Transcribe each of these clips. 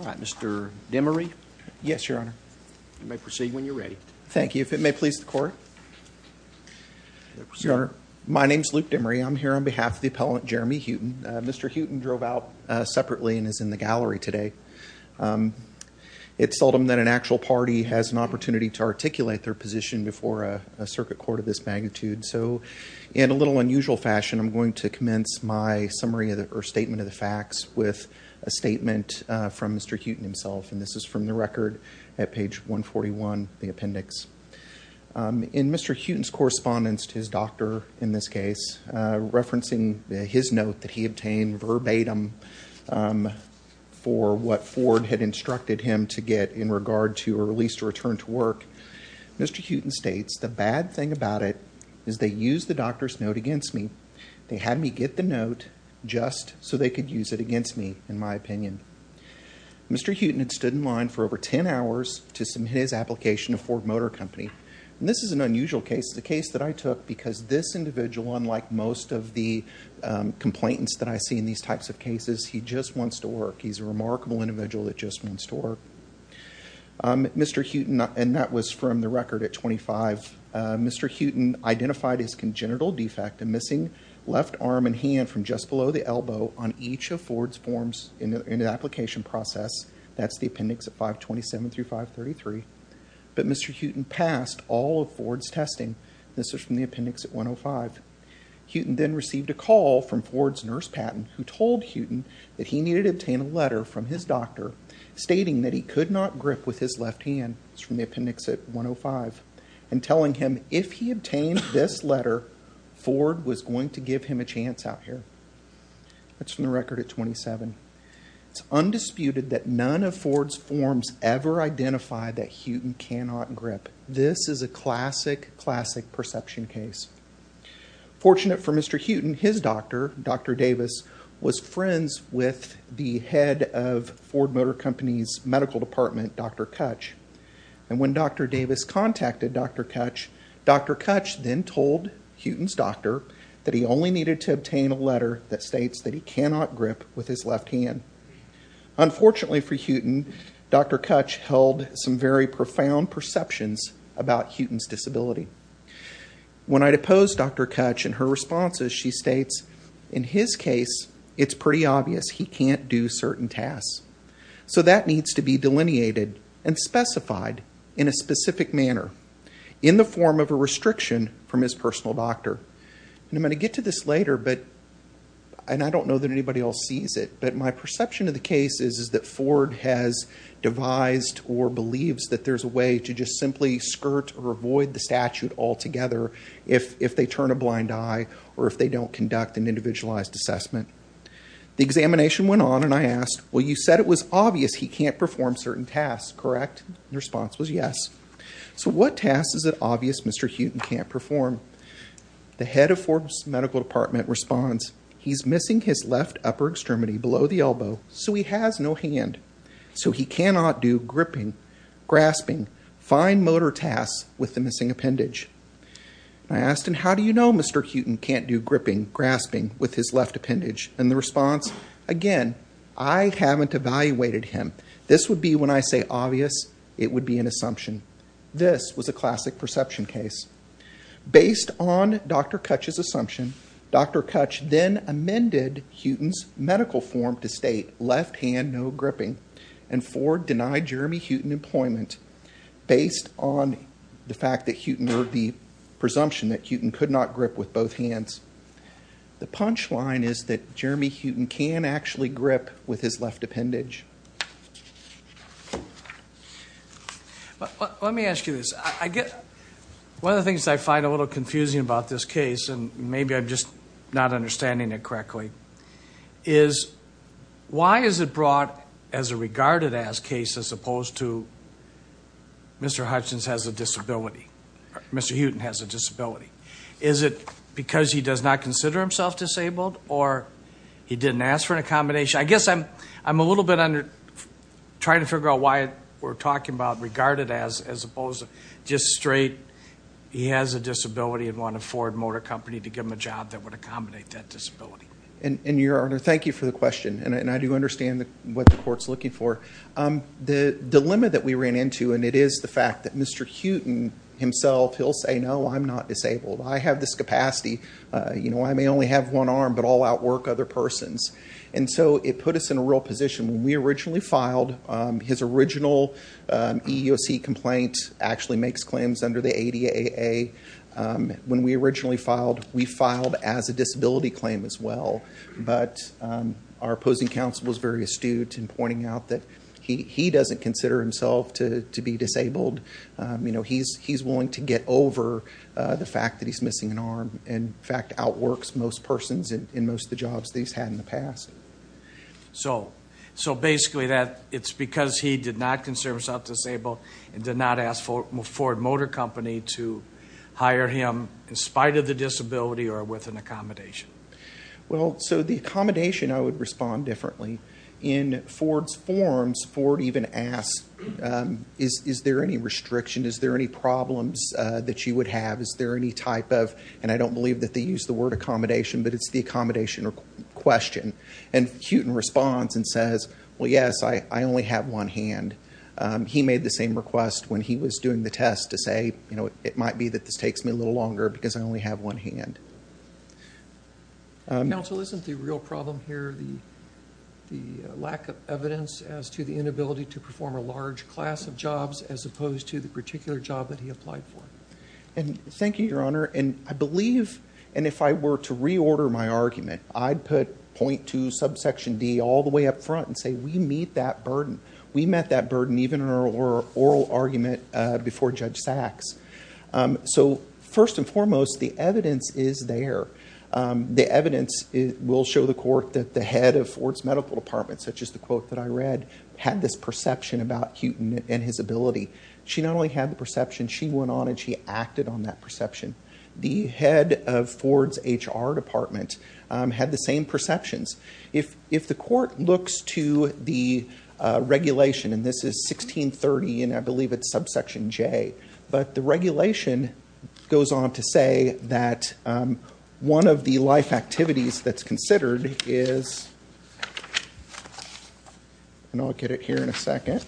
Mr. Demery. Yes, your honor. You may proceed when you're ready. Thank you. If it may please the court. Your honor, my name is Luke Demery. I'm here on behalf of the appellant Jeremy Heuton. Mr. Heuton drove out separately and is in the gallery today. It's seldom that an actual party has an opportunity to articulate their position before a circuit court of this magnitude, so in a little unusual fashion I'm going to commence my summary or statement of the facts with a and this is from the record at page 141, the appendix. In Mr. Heuton's correspondence to his doctor, in this case, referencing his note that he obtained verbatim for what Ford had instructed him to get in regard to a release to return to work, Mr. Heuton states the bad thing about it is they used the doctor's note against me. They had me get the note just so they could use it against me, in my opinion. Mr. Heuton had stood in line for over 10 hours to submit his application to Ford Motor Company. This is an unusual case. The case that I took because this individual, unlike most of the complainants that I see in these types of cases, he just wants to work. He's a remarkable individual that just wants to work. Mr. Heuton, and that was from the record at 25, Mr. Heuton identified his congenital defect, a missing left arm and hand from just below the elbow on each of Ford's forms in the application process, that's the appendix at 527 through 533, but Mr. Heuton passed all of Ford's testing. This is from the appendix at 105. Heuton then received a call from Ford's nurse, Patton, who told Heuton that he needed to obtain a letter from his doctor stating that he could not grip with his left hand, it's from the appendix at 105, and telling him if he obtained this letter, Ford was going to give him a letter. That's from the record at 27. It's undisputed that none of Ford's forms ever identified that Heuton cannot grip. This is a classic, classic perception case. Fortunate for Mr. Heuton, his doctor, Dr. Davis, was friends with the head of Ford Motor Company's medical department, Dr. Kutch, and when Dr. Davis contacted Dr. Kutch, Dr. Kutch then told Heuton's doctor that he only needed to get a letter that states that he cannot grip with his left hand. Unfortunately for Heuton, Dr. Kutch held some very profound perceptions about Heuton's disability. When I'd opposed Dr. Kutch and her responses, she states, in his case, it's pretty obvious he can't do certain tasks, so that needs to be delineated and specified in a specific manner, in the form of a restriction from his personal doctor. I'm going to get to this later, but I don't know that anybody else sees it, but my perception of the case is that Ford has devised or believes that there's a way to just simply skirt or avoid the statute altogether if they turn a blind eye or if they don't conduct an individualized assessment. The examination went on and I asked, well you said it was obvious he can't perform certain tasks, correct? The response was yes. So what tasks is it obvious Mr. Heuton can't perform? The head of Ford's medical department responds, he's missing his left upper extremity below the elbow, so he has no hand. So he cannot do gripping, grasping, fine motor tasks with the missing appendage. I asked him, how do you know Mr. Heuton can't do gripping, grasping with his left appendage? And the response, again, I haven't evaluated him. This would be when I say obvious, it was a classic perception case. Based on Dr. Kutch's assumption, Dr. Kutch then amended Heuton's medical form to state left hand no gripping and Ford denied Jeremy Heuton employment based on the fact that Heuton, or the presumption that Heuton could not grip with both hands. The punchline is that Jeremy Heuton can actually grip with his left appendage. Let me ask you this. I get, one of the things I find a little confusing about this case, and maybe I'm just not understanding it correctly, is why is it brought as a regarded as case as opposed to Mr. Hutchins has a disability, Mr. Heuton has a disability? Is it because he I guess I'm a little bit trying to figure out why we're talking about regarded as, as opposed to just straight, he has a disability and wanted Ford Motor Company to give him a job that would accommodate that disability. And your Honor, thank you for the question, and I do understand what the court's looking for. The dilemma that we ran into, and it is the fact that Mr. Heuton himself, he'll say, no, I'm not disabled. I have this capacity, you know, I may only have one other persons. And so it put us in a real position. When we originally filed, his original EEOC complaint actually makes claims under the ADA. When we originally filed, we filed as a disability claim as well. But our opposing counsel was very astute in pointing out that he doesn't consider himself to be disabled. You know, he's willing to get over the fact that he's missing an arm, and in fact works most persons in most of the jobs that he's had in the past. So, so basically that it's because he did not consider himself disabled and did not ask Ford Motor Company to hire him in spite of the disability or with an accommodation. Well, so the accommodation, I would respond differently. In Ford's forms, Ford even asked, is there any restriction? Is there any problems that you would have? Is there any type of, and I don't believe that they use the word accommodation, but it's the accommodation question. And Heuton responds and says, well, yes, I only have one hand. He made the same request when he was doing the test to say, you know, it might be that this takes me a little longer because I only have one hand. Counsel, isn't the real problem here the the lack of evidence as to the inability to perform a large class of jobs as opposed to the particular job that he applied for? And thank you, Your Honor, and I believe, and if I were to reorder my argument, I'd put point to subsection D all the way up front and say we meet that burden. We met that burden even in our oral argument before Judge Sachs. So, first and foremost, the evidence is there. The evidence will show the court that the head of Ford's medical department, such as the quote that I read, had this perception about Heuton and his ability she not only had the perception, she went on and she acted on that perception. The head of Ford's HR department had the same perceptions. If the court looks to the regulation, and this is 1630 and I believe it's subsection J, but the regulation goes on to say that one of the life activities that's considered is, and I'll get it here in a second,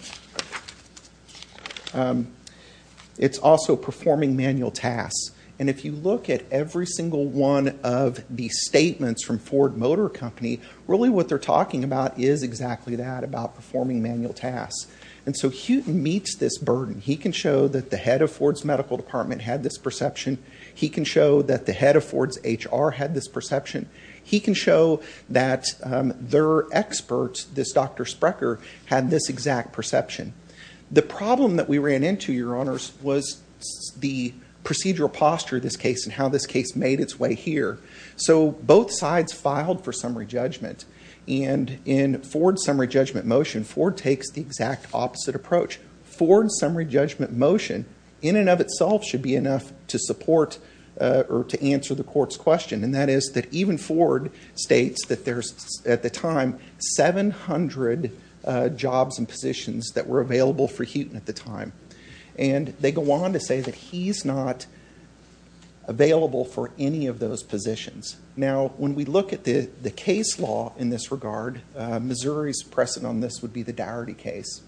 it's also performing manual tasks. And if you look at every single one of these statements from Ford Motor Company, really what they're talking about is exactly that, about performing manual tasks. And so Heuton meets this burden. He can show that the head of Ford's medical department had this perception. He can show that the head of Ford's HR had this perception. That their experts, this Dr. Sprecher, had this exact perception. The problem that we ran into, your honors, was the procedural posture of this case and how this case made its way here. So, both sides filed for summary judgment and in Ford's summary judgment motion, Ford takes the exact opposite approach. Ford's summary judgment motion, in and of itself, should be enough to support or to answer the court's question. And that is that even Ford states that there's, at the time, 700 jobs and positions that were available for Heuton at the time. And they go on to say that he's not available for any of those positions. Now, when we look at the the case law in this regard, Missouri's precedent on this would be the Dougherty case.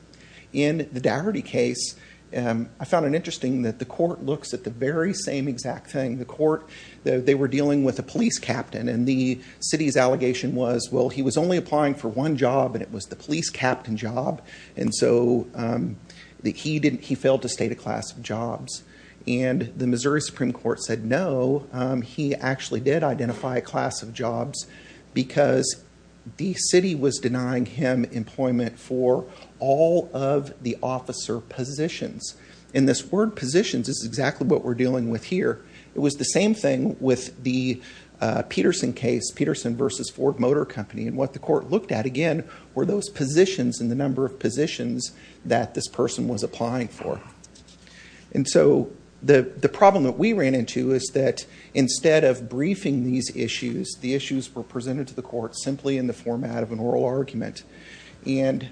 In the Dougherty case, I found it interesting that the court looks at the very same exact thing. The court, they were dealing with a police captain and the city's allegation was, well, he was only applying for one job and it was the police captain job. And so, he didn't, he failed to state a class of jobs. And the Missouri Supreme Court said, no, he actually did identify a class of jobs because the city was denying him employment for all of the officer positions. And this word positions is exactly what we're dealing with here. It was the same thing with the Peterson case, Peterson versus Ford Motor Company. And what the court looked at, again, were those positions and the number of positions that this person was applying for. And so, the problem that we ran into is that instead of briefing these issues, the issues were presented to the court simply in the format of an oral argument. And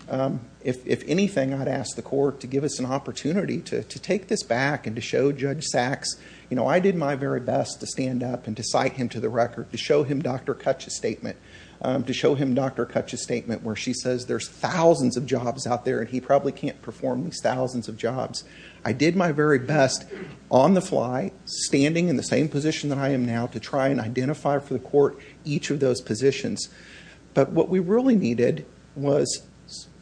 if anything, I'd ask the court to give us an opportunity to take this back and to show Judge Sachs, you know, I did my very best to stand up and to cite him to the record, to show him Dr. Kutch's statement, to show him Dr. Kutch's statement where she says there's thousands of jobs out there and he probably can't perform these thousands of jobs. I did my very best on the fly, standing in the same position that I am now, to try and identify for the court each of those positions. But what we really needed was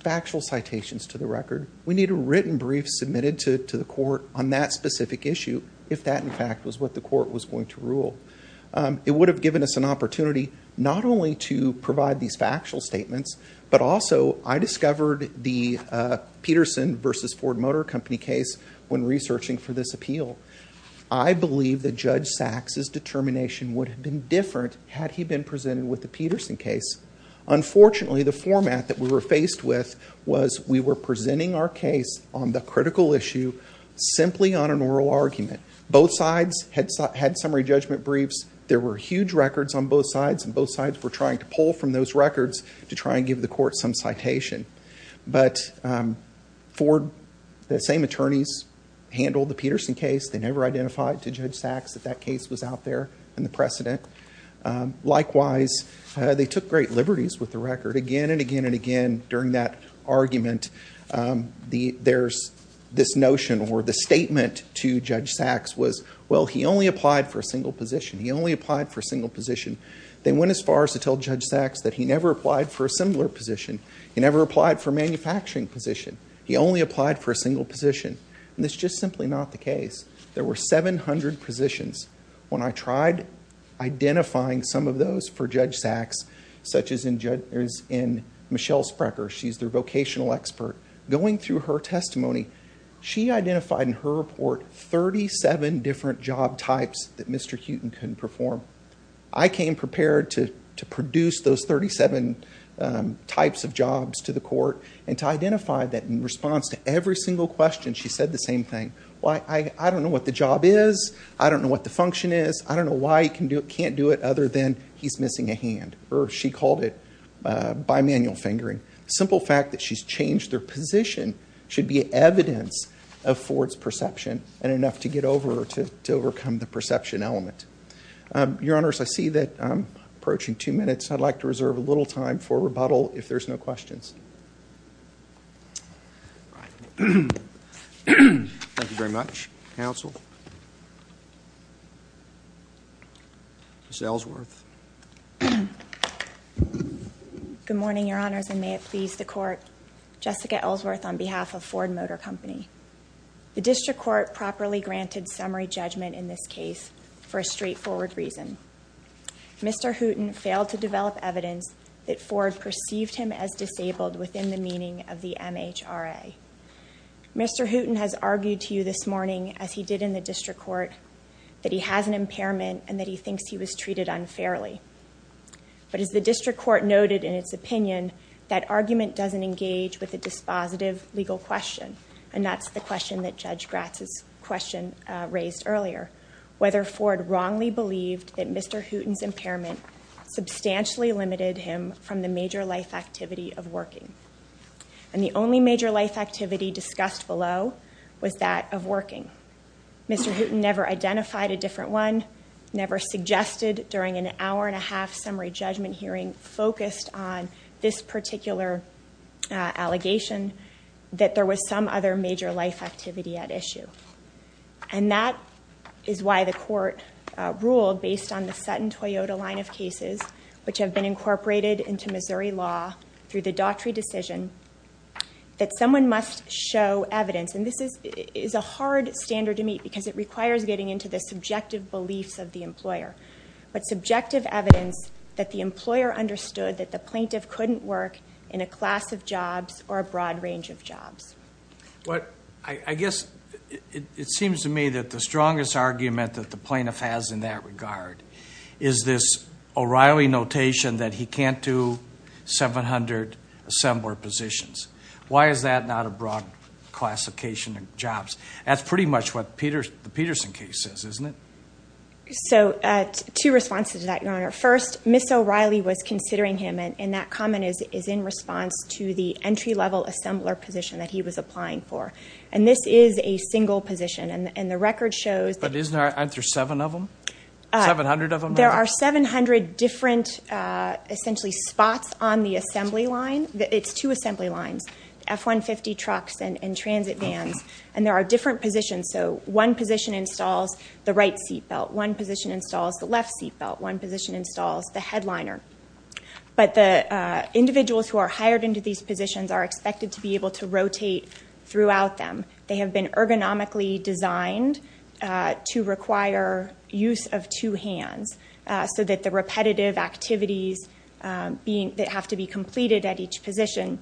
factual citations to the record. We need a written brief submitted to the court on that specific issue, if that, in fact, was what the court was going to rule. It would have given us an opportunity not only to provide these factual statements, but also I discovered the Peterson versus Ford Motor Company case when researching for this appeal. I believe that Judge Sachs's determination would have been different had he been presented with the Peterson case. Unfortunately, the format that we were faced with was we were presenting our case on the critical issue simply on an oral argument. Both sides had summary judgment briefs. There were huge records on both sides and both sides were trying to pull from those records to try and give the court some citation. But Ford, the same attorneys, handled the Peterson case. They never identified to Judge Sachs that case was out there in the precedent. Likewise, they took great liberties with the record again and again and again during that argument. There's this notion or the statement to Judge Sachs was, well, he only applied for a single position. He only applied for a single position. They went as far as to tell Judge Sachs that he never applied for a similar position. He never applied for a manufacturing position. He only applied for a single position. And that's just simply not the case. There were 700 positions. When I tried identifying some of those for Judge Sachs, such as in Michelle Sprecher, she's their vocational expert, going through her testimony, she identified in her report 37 different job types that Mr. Huton couldn't perform. I came prepared to produce those 37 types of jobs to the court and to identify that in response to every single question, she said the same thing. I don't know what the job is. I don't know what the function is. I don't know why he can't do it other than he's missing a hand, or she called it bimanual fingering. Simple fact that she's changed their position should be evidence of Ford's perception and enough to get over or to overcome the perception element. Your Honor, I see that I'm approaching two minutes. I'd like to reserve a little time for rebuttal if there's no questions. Thank you very much. Counsel. Ms. Ellsworth. Good morning, Your Honors, and may it please the court. Jessica Ellsworth on behalf of Ford Motor Company. The district court properly granted summary judgment in this case for a straightforward reason. Mr. Huton failed to develop evidence that he came as disabled within the meaning of the MHRA. Mr. Huton has argued to you this morning, as he did in the district court, that he has an impairment and that he thinks he was treated unfairly. But as the district court noted in its opinion, that argument doesn't engage with a dispositive legal question, and that's the question that Judge Gratz's question raised earlier. Whether Ford wrongly believed that Mr. Huton's impairment substantially limited him from the major life activity of working. And the only major life activity discussed below was that of working. Mr. Huton never identified a different one, never suggested during an hour-and-a-half summary judgment hearing focused on this particular allegation that there was some other major life activity at issue. And that is why the court ruled based on the Sutton-Toyota line of cases, which have been incorporated into Missouri law through the Daughtry decision, that someone must show evidence. And this is a hard standard to meet because it requires getting into the subjective beliefs of the employer. But subjective evidence that the employer understood that the plaintiff couldn't work in a class of jobs or a broad range of jobs. Well, I guess it seems to me that the strongest argument that the plaintiff has in that regard is this O'Reilly notation that he can't do 700 assembler positions. Why is that not a broad classification of jobs? That's pretty much what the Peterson case says, isn't it? So, two responses to that, Your Honor. First, Ms. O'Reilly was considering him, and that comment is in response to the entry-level assembler position that he was applying for. And this is a single position, and the record shows that... But isn't there seven of them? 700 of them? There are 700 different, essentially, spots on the assembly line. It's two assembly lines, F-150 trucks and transit vans. And there are different positions. So, one position installs the right seat belt. One position installs the left seat belt. One position installs the headliner. But the individuals who are hired into these positions are expected to be able to rotate throughout them. They have been ergonomically designed to require use of two hands so that the repetitive activities that have to be completed at each position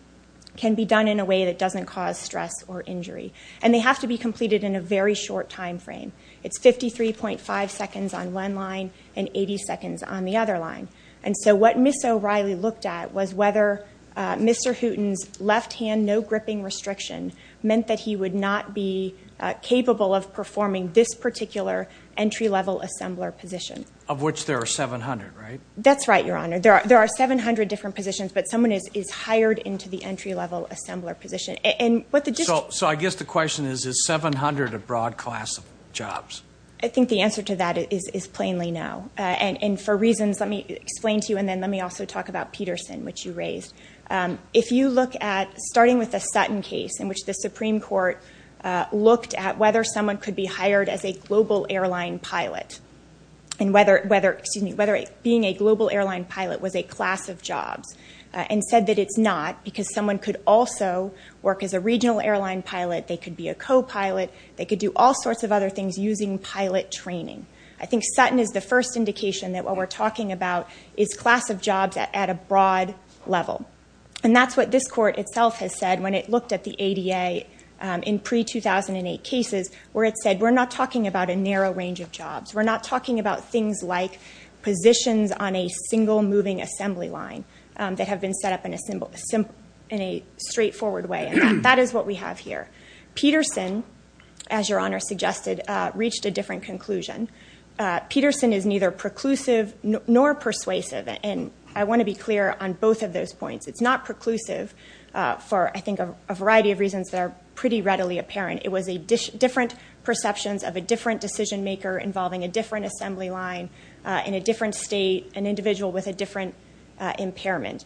can be done in a way that doesn't cause stress or injury. And they have to be completed in a very short time frame. It's 53.5 seconds on one line and 80 seconds on the other line. And so, what Ms. O'Reilly looked at was whether Mr. Hooten's left no gripping restriction meant that he would not be capable of performing this particular entry-level assembler position. Of which there are 700, right? That's right, Your Honor. There are 700 different positions, but someone is hired into the entry-level assembler position. And what the district... So, I guess the question is, is 700 a broad class of jobs? I think the answer to that is plainly no. And for reasons... Let me explain to you, and then let me also talk about Peterson, which you raised. If you look at, starting with the Sutton case, in which the Supreme Court looked at whether someone could be hired as a global airline pilot. And whether, excuse me, whether being a global airline pilot was a class of jobs. And said that it's not, because someone could also work as a regional airline pilot. They could be a co-pilot. They could do all sorts of other things using pilot training. I think it's a class of jobs at a broad level. And that's what this court itself has said when it looked at the ADA in pre-2008 cases. Where it said, we're not talking about a narrow range of jobs. We're not talking about things like positions on a single moving assembly line that have been set up in a simple, simple, in a straightforward way. And that is what we have here. Peterson, as Your Honor suggested, reached a different conclusion. Peterson is neither preclusive nor persuasive. And I want to be clear on both of those points. It's not preclusive for, I think, a variety of reasons that are pretty readily apparent. It was a different perceptions of a different decision maker involving a different assembly line, in a different state, an individual with a different impairment.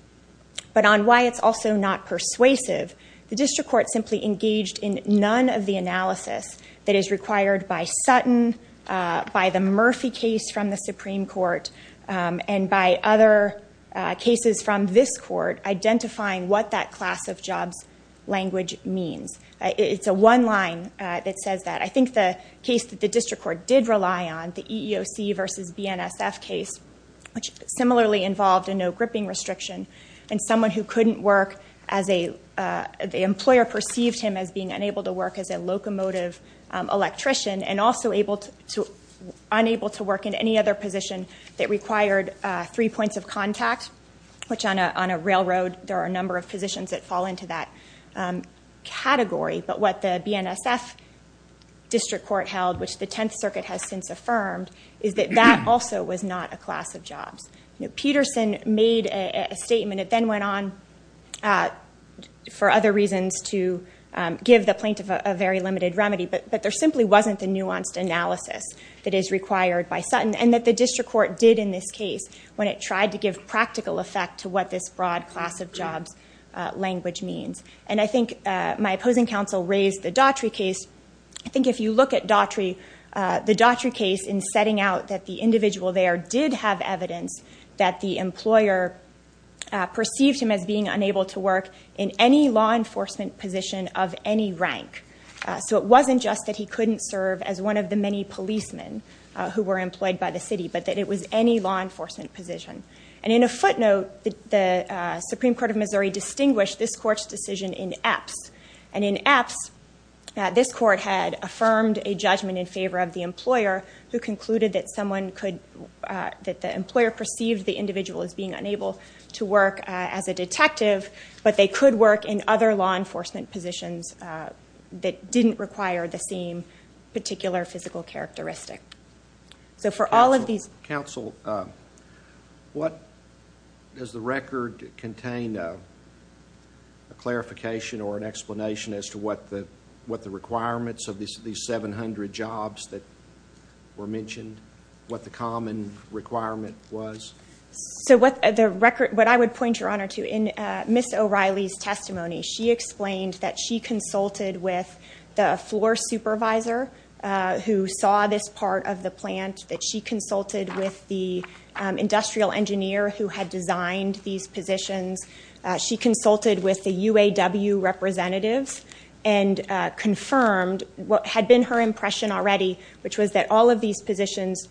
But on why it's also not persuasive, the District Court simply engaged in none of the analysis that is required by Sutton, by the Murphy case from the Supreme Court, and by other cases from this court, identifying what that class of jobs language means. It's a one line that says that. I think the case that the District Court did rely on, the EEOC versus BNSF case, which similarly involved a no gripping restriction. And someone who couldn't work as a, the employer perceived him as being unable to work as a locomotive electrician, and also unable to work in any other position that required three points of contact, which on a railroad, there are a number of positions that fall into that category. But what the BNSF District Court held, which the Tenth Circuit has since affirmed, is that that also was not a class of jobs. Peterson made a statement, it then went on for other reasons to give the but there simply wasn't the nuanced analysis that is required by Sutton. And that the District Court did in this case, when it tried to give practical effect to what this broad class of jobs language means. And I think my opposing counsel raised the Daughtry case. I think if you look at Daughtry, the Daughtry case in setting out that the individual there did have evidence that the employer perceived him as being unable to work in any law enforcement position of any rank. So it wasn't just that he couldn't serve as one of the many policemen who were employed by the city, but that it was any law enforcement position. And in a footnote, the Supreme Court of Missouri distinguished this court's decision in Epps. And in Epps, this court had affirmed a judgment in favor of the employer, who concluded that someone could, that the employer perceived the individual as being unable to work as a detective, but they could work in other law enforcement positions that didn't require the same particular physical characteristic. So for all of these... Counsel, does the record contain a clarification or an explanation as to what the requirements of these 700 jobs that were mentioned, what the common requirement was? So what the record, what I would point your honor to in Ms. O'Reilly's testimony, she explained that she consulted with the floor supervisor who saw this part of the plant, that she consulted with the industrial engineer who had designed these positions. She consulted with the UAW representatives and confirmed what had been her impression already, which was that all of these positions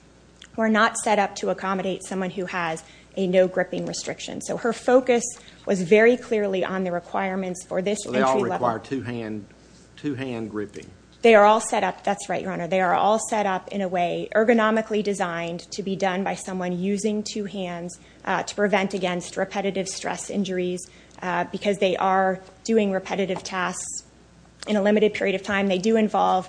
were not set up to accommodate someone who has a no gripping restriction. So her focus was very clearly on the requirements for this entry level. So they all require two hand gripping? They are all set up, that's right your honor, they are all set up in a way ergonomically designed to be done by someone using two hands to prevent against repetitive stress injuries, because they are doing repetitive tasks in a limited period of time. They do involve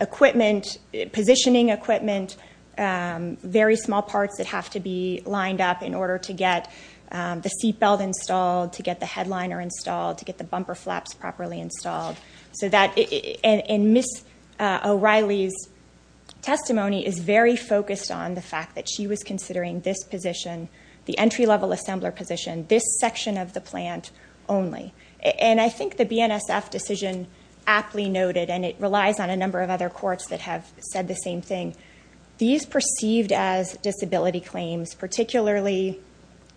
equipment, positioning equipment, very small parts that have to be lined up in order to get the seatbelt installed, to get the headliner installed, to get the bumper flaps properly installed. So that... And Ms. O'Reilly's testimony is very focused on the fact that she was considering this position, the entry level assembler position, this section of the CF decision aptly noted, and it relies on a number of other courts that have said the same thing. These perceived as disability claims, particularly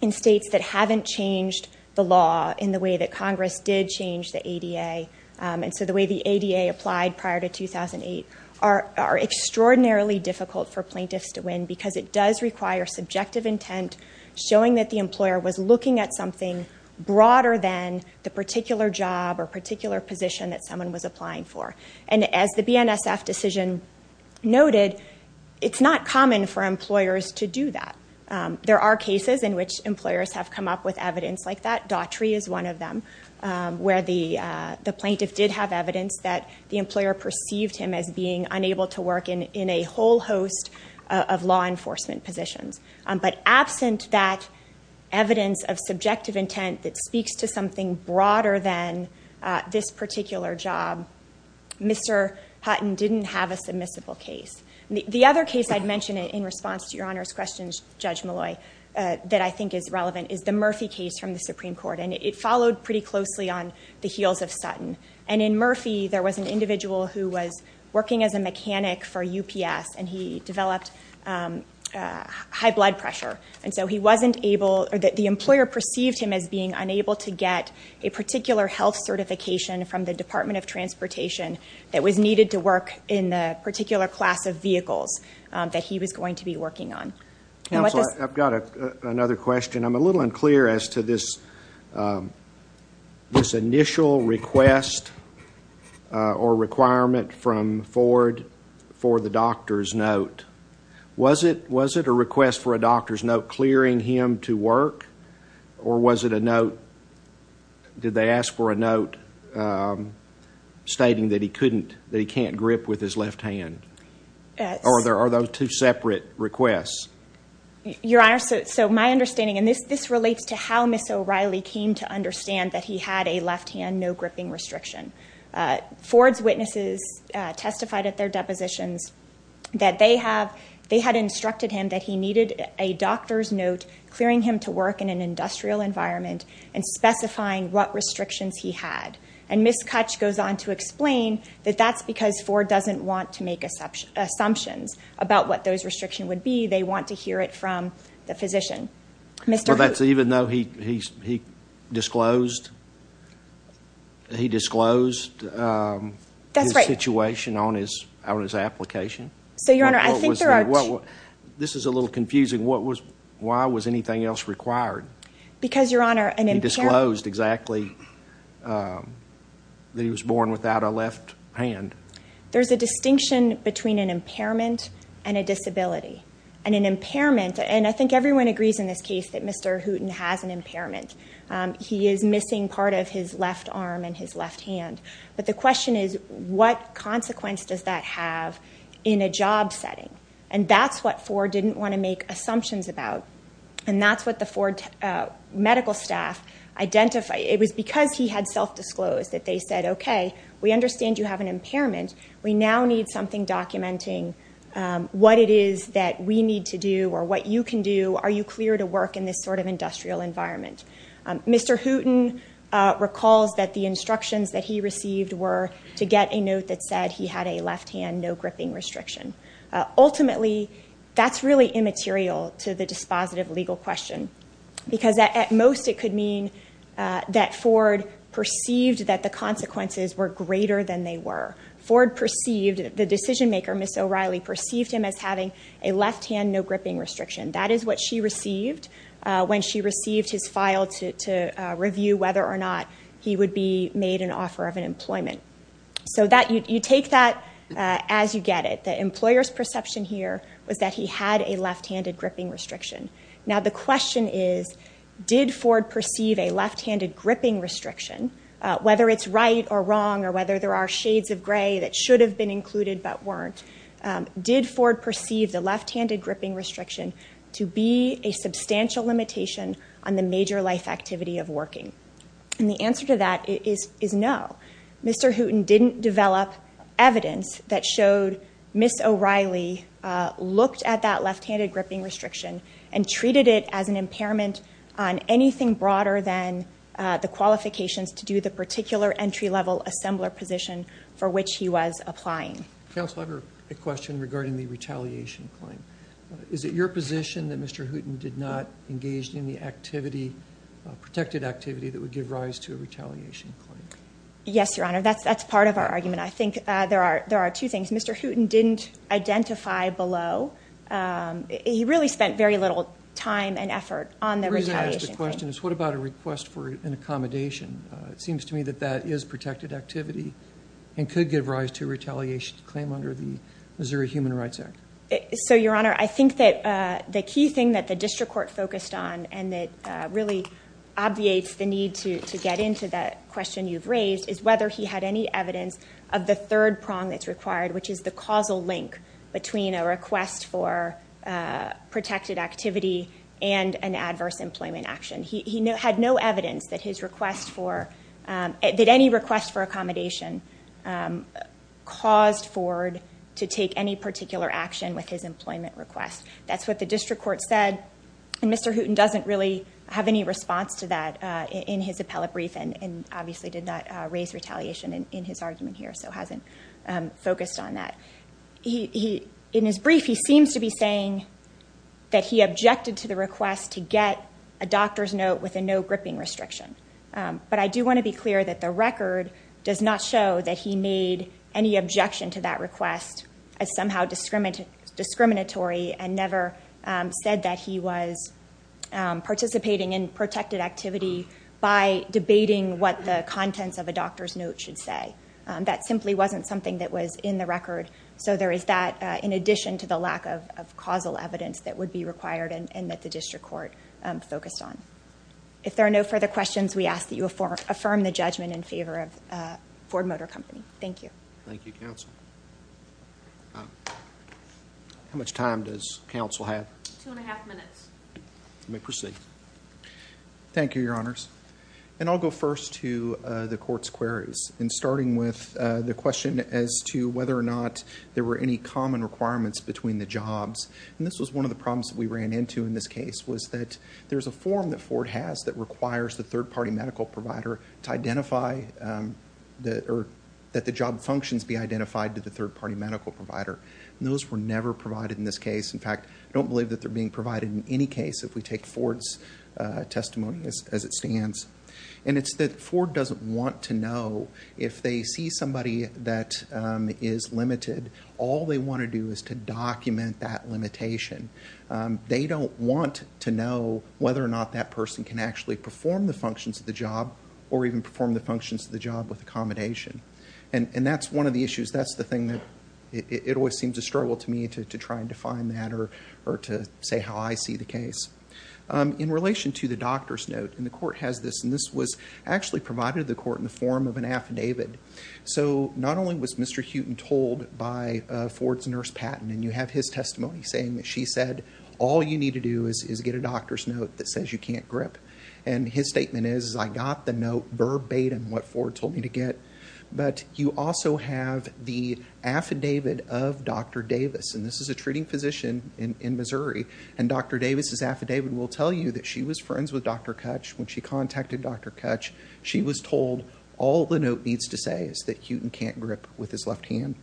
in states that haven't changed the law in the way that Congress did change the ADA, and so the way the ADA applied prior to 2008 are extraordinarily difficult for plaintiffs to win, because it does require subjective intent showing that the employer was looking at something broader than the particular job or particular position that someone was applying for. And as the BNSF decision noted, it's not common for employers to do that. There are cases in which employers have come up with evidence like that. Daughtry is one of them, where the plaintiff did have evidence that the employer perceived him as being unable to work in a whole host of law enforcement positions. But absent that this particular job, Mr. Hutton didn't have a submissible case. The other case I'd mention in response to your Honor's questions, Judge Malloy, that I think is relevant is the Murphy case from the Supreme Court, and it followed pretty closely on the heels of Sutton. And in Murphy, there was an individual who was working as a mechanic for UPS, and he developed high blood pressure. And so he wasn't able, or the employer perceived him as being unable to get a particular health certification from the Department of Transportation that was needed to work in the particular class of vehicles that he was going to be working on. Counselor, I've got another question. I'm a little unclear as to this initial request or requirement from Ford for the doctor's note. Was it a request for a doctor's note clearing him to work, or was it a note, did they ask for a note stating that he couldn't, that he can't grip with his left hand? Or are those two separate requests? Your Honor, so my understanding, and this relates to how Ms. O'Reilly came to understand that he had a left-hand no gripping restriction. Ford's witnesses testified at their depositions that they had instructed him that he needed a doctor's note clearing him to work in an industrial environment and specifying what restrictions he had. And Ms. Kutch goes on to explain that that's because Ford doesn't want to make assumptions about what those restrictions would be. They want to hear it from the physician. Well, that's even though he disclosed, he disclosed his situation on his application. So, Your Honor, I think there are... This is a little confusing. What was, why was anything else required? Because, Your Honor... He disclosed exactly that he was born without a left hand. There's a distinction between an impairment and a disability. And an impairment, and I think everyone agrees in this case that Mr. Hooten has an impairment. He is missing part of his left arm and his left hand. But the question is, what consequence does that have in a job setting? And that's what Ford didn't want to make assumptions about. And that's what the Ford medical staff identified. It was because he had self-disclosed that they said, okay, we understand you have an impairment. We now need something documenting what it is that we need to do or what you can do. Are you clear to work in this sort of industrial environment? Mr. Hooten recalls that the first thing he received were to get a note that said he had a left-hand no-gripping restriction. Ultimately, that's really immaterial to the dispositive legal question. Because at most it could mean that Ford perceived that the consequences were greater than they were. Ford perceived, the decision-maker, Ms. O'Reilly, perceived him as having a left-hand no-gripping restriction. That is what she received when she received his file to review whether or not he would be made an offer of an employment. So you take that as you get it. The employer's perception here was that he had a left-handed gripping restriction. Now, the question is, did Ford perceive a left-handed gripping restriction, whether it's right or wrong or whether there are shades of gray that should have been included but weren't, did Ford perceive the left-handed gripping restriction to be a substantial limitation on the major life activity of working? And the answer to that is no. Mr. Hooten didn't develop evidence that showed Ms. O'Reilly looked at that left-handed gripping restriction and treated it as an impairment on anything broader than the qualifications to do the particular entry-level assembler position for which he was applying. Counsel, I have a question regarding the retaliation claim. Is it your position that Mr. Hooten did not engage in the activity, protected activity, that would give rise to a retaliation claim? Yes, Your Honor, that's part of our argument. I think there are there are two things. Mr. Hooten didn't identify below. He really spent very little time and effort on the retaliation claim. The reason I ask the question is what about a request for an accommodation? It seems to me that that is protected activity and could give rise to a retaliation claim under the Missouri Human Rights Act. So, Your Honor, I think that the key thing that the district court focused on and that really obviates the need to get into that question you've raised is whether he had any evidence of the third prong that's required, which is the causal link between a request for protected activity and an adverse employment action. He had no evidence that his request for, that any request for accommodation caused Ford to take any particular action with his employment request. That's what the response to that in his appellate brief and obviously did not raise retaliation in his argument here, so hasn't focused on that. In his brief, he seems to be saying that he objected to the request to get a doctor's note with a no gripping restriction. But I do want to be clear that the record does not show that he made any objection to that request as somehow discriminatory and never said that he was participating in protected activity by debating what the contents of a doctor's note should say. That simply wasn't something that was in the record, so there is that in addition to the lack of causal evidence that would be required and that the district court focused on. If there are no further questions, we ask that you affirm the judgment in favor of counsel have. Two and a half minutes. You may proceed. Thank you, your honors. And I'll go first to the court's queries and starting with the question as to whether or not there were any common requirements between the jobs. And this was one of the problems that we ran into in this case was that there's a form that Ford has that requires the third-party medical provider to identify that the job functions be identified to the third-party medical provider. Those were never provided in this case. In fact, I don't believe that they're being provided in any case if we take Ford's testimony as it stands. And it's that Ford doesn't want to know if they see somebody that is limited. All they want to do is to document that limitation. They don't want to know whether or not that person can actually perform the functions of the job or even perform the functions of the job with accommodation. And that's one of the issues. That's the thing that it always seems a struggle to me to try and define that or to say how I see the case. In relation to the doctor's note, and the court has this, and this was actually provided to the court in the form of an affidavit. So not only was Mr. Huton told by Ford's nurse, Patton, and you have his testimony saying that she said, all you need to do is get a doctor's note that says you can't grip. And his statement is, I got the note verbatim what Ford told me to get. But you also have the affidavit of Dr. Davis. And this is a treating physician in Missouri. And Dr. Davis' affidavit will tell you that she was friends with Dr. Kutch. When she contacted Dr. Kutch, she was told all the note needs to say is that Huton can't grip with his left hand.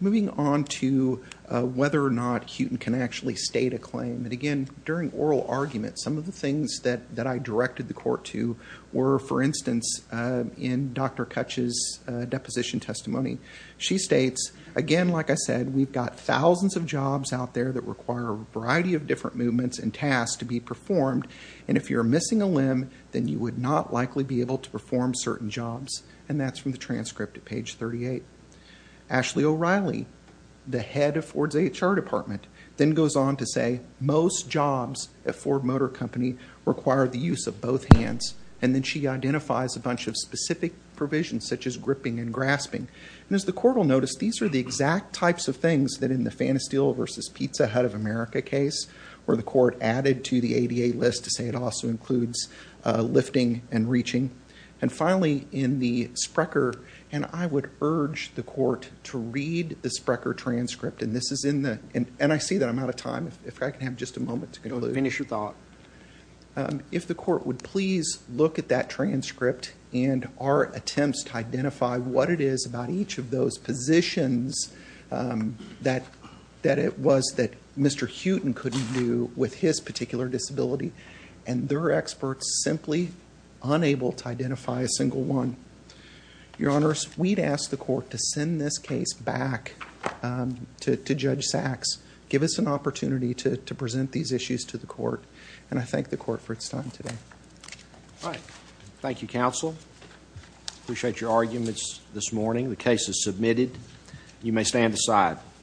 Moving on to whether or not Huton can actually state a claim. And again, during oral arguments, some of the things that that I directed the court to were, for instance, in Dr. Kutch's deposition testimony. She states, again, like I said, we've got thousands of jobs out there that require a variety of different movements and tasks to be performed. And if you're missing a limb, then you would not likely be able to perform certain jobs. And that's from the transcript at page 38. Ashley O'Reilly, the head of Ford's HR department, then she identifies a bunch of specific provisions, such as gripping and grasping. And as the court will notice, these are the exact types of things that in the Phantasteel v. Pizza Hut of America case, where the court added to the ADA list to say it also includes lifting and reaching. And finally, in the Sprecher, and I would urge the court to read the Sprecher transcript. And this is in the and I see that I'm out of time. If I can have just a moment to finish your thought. If the court would please look at that transcript and our attempts to identify what it is about each of those positions that it was that Mr. Huton couldn't do with his particular disability. And there are experts simply unable to identify a single one. Your Honors, we'd ask the court to send this case back to Judge Sachs, give us an opportunity to present these issues to the court, and I thank the court for its time today. All right. Thank you, counsel. Appreciate your arguments this morning. The case is submitted. You may stand aside.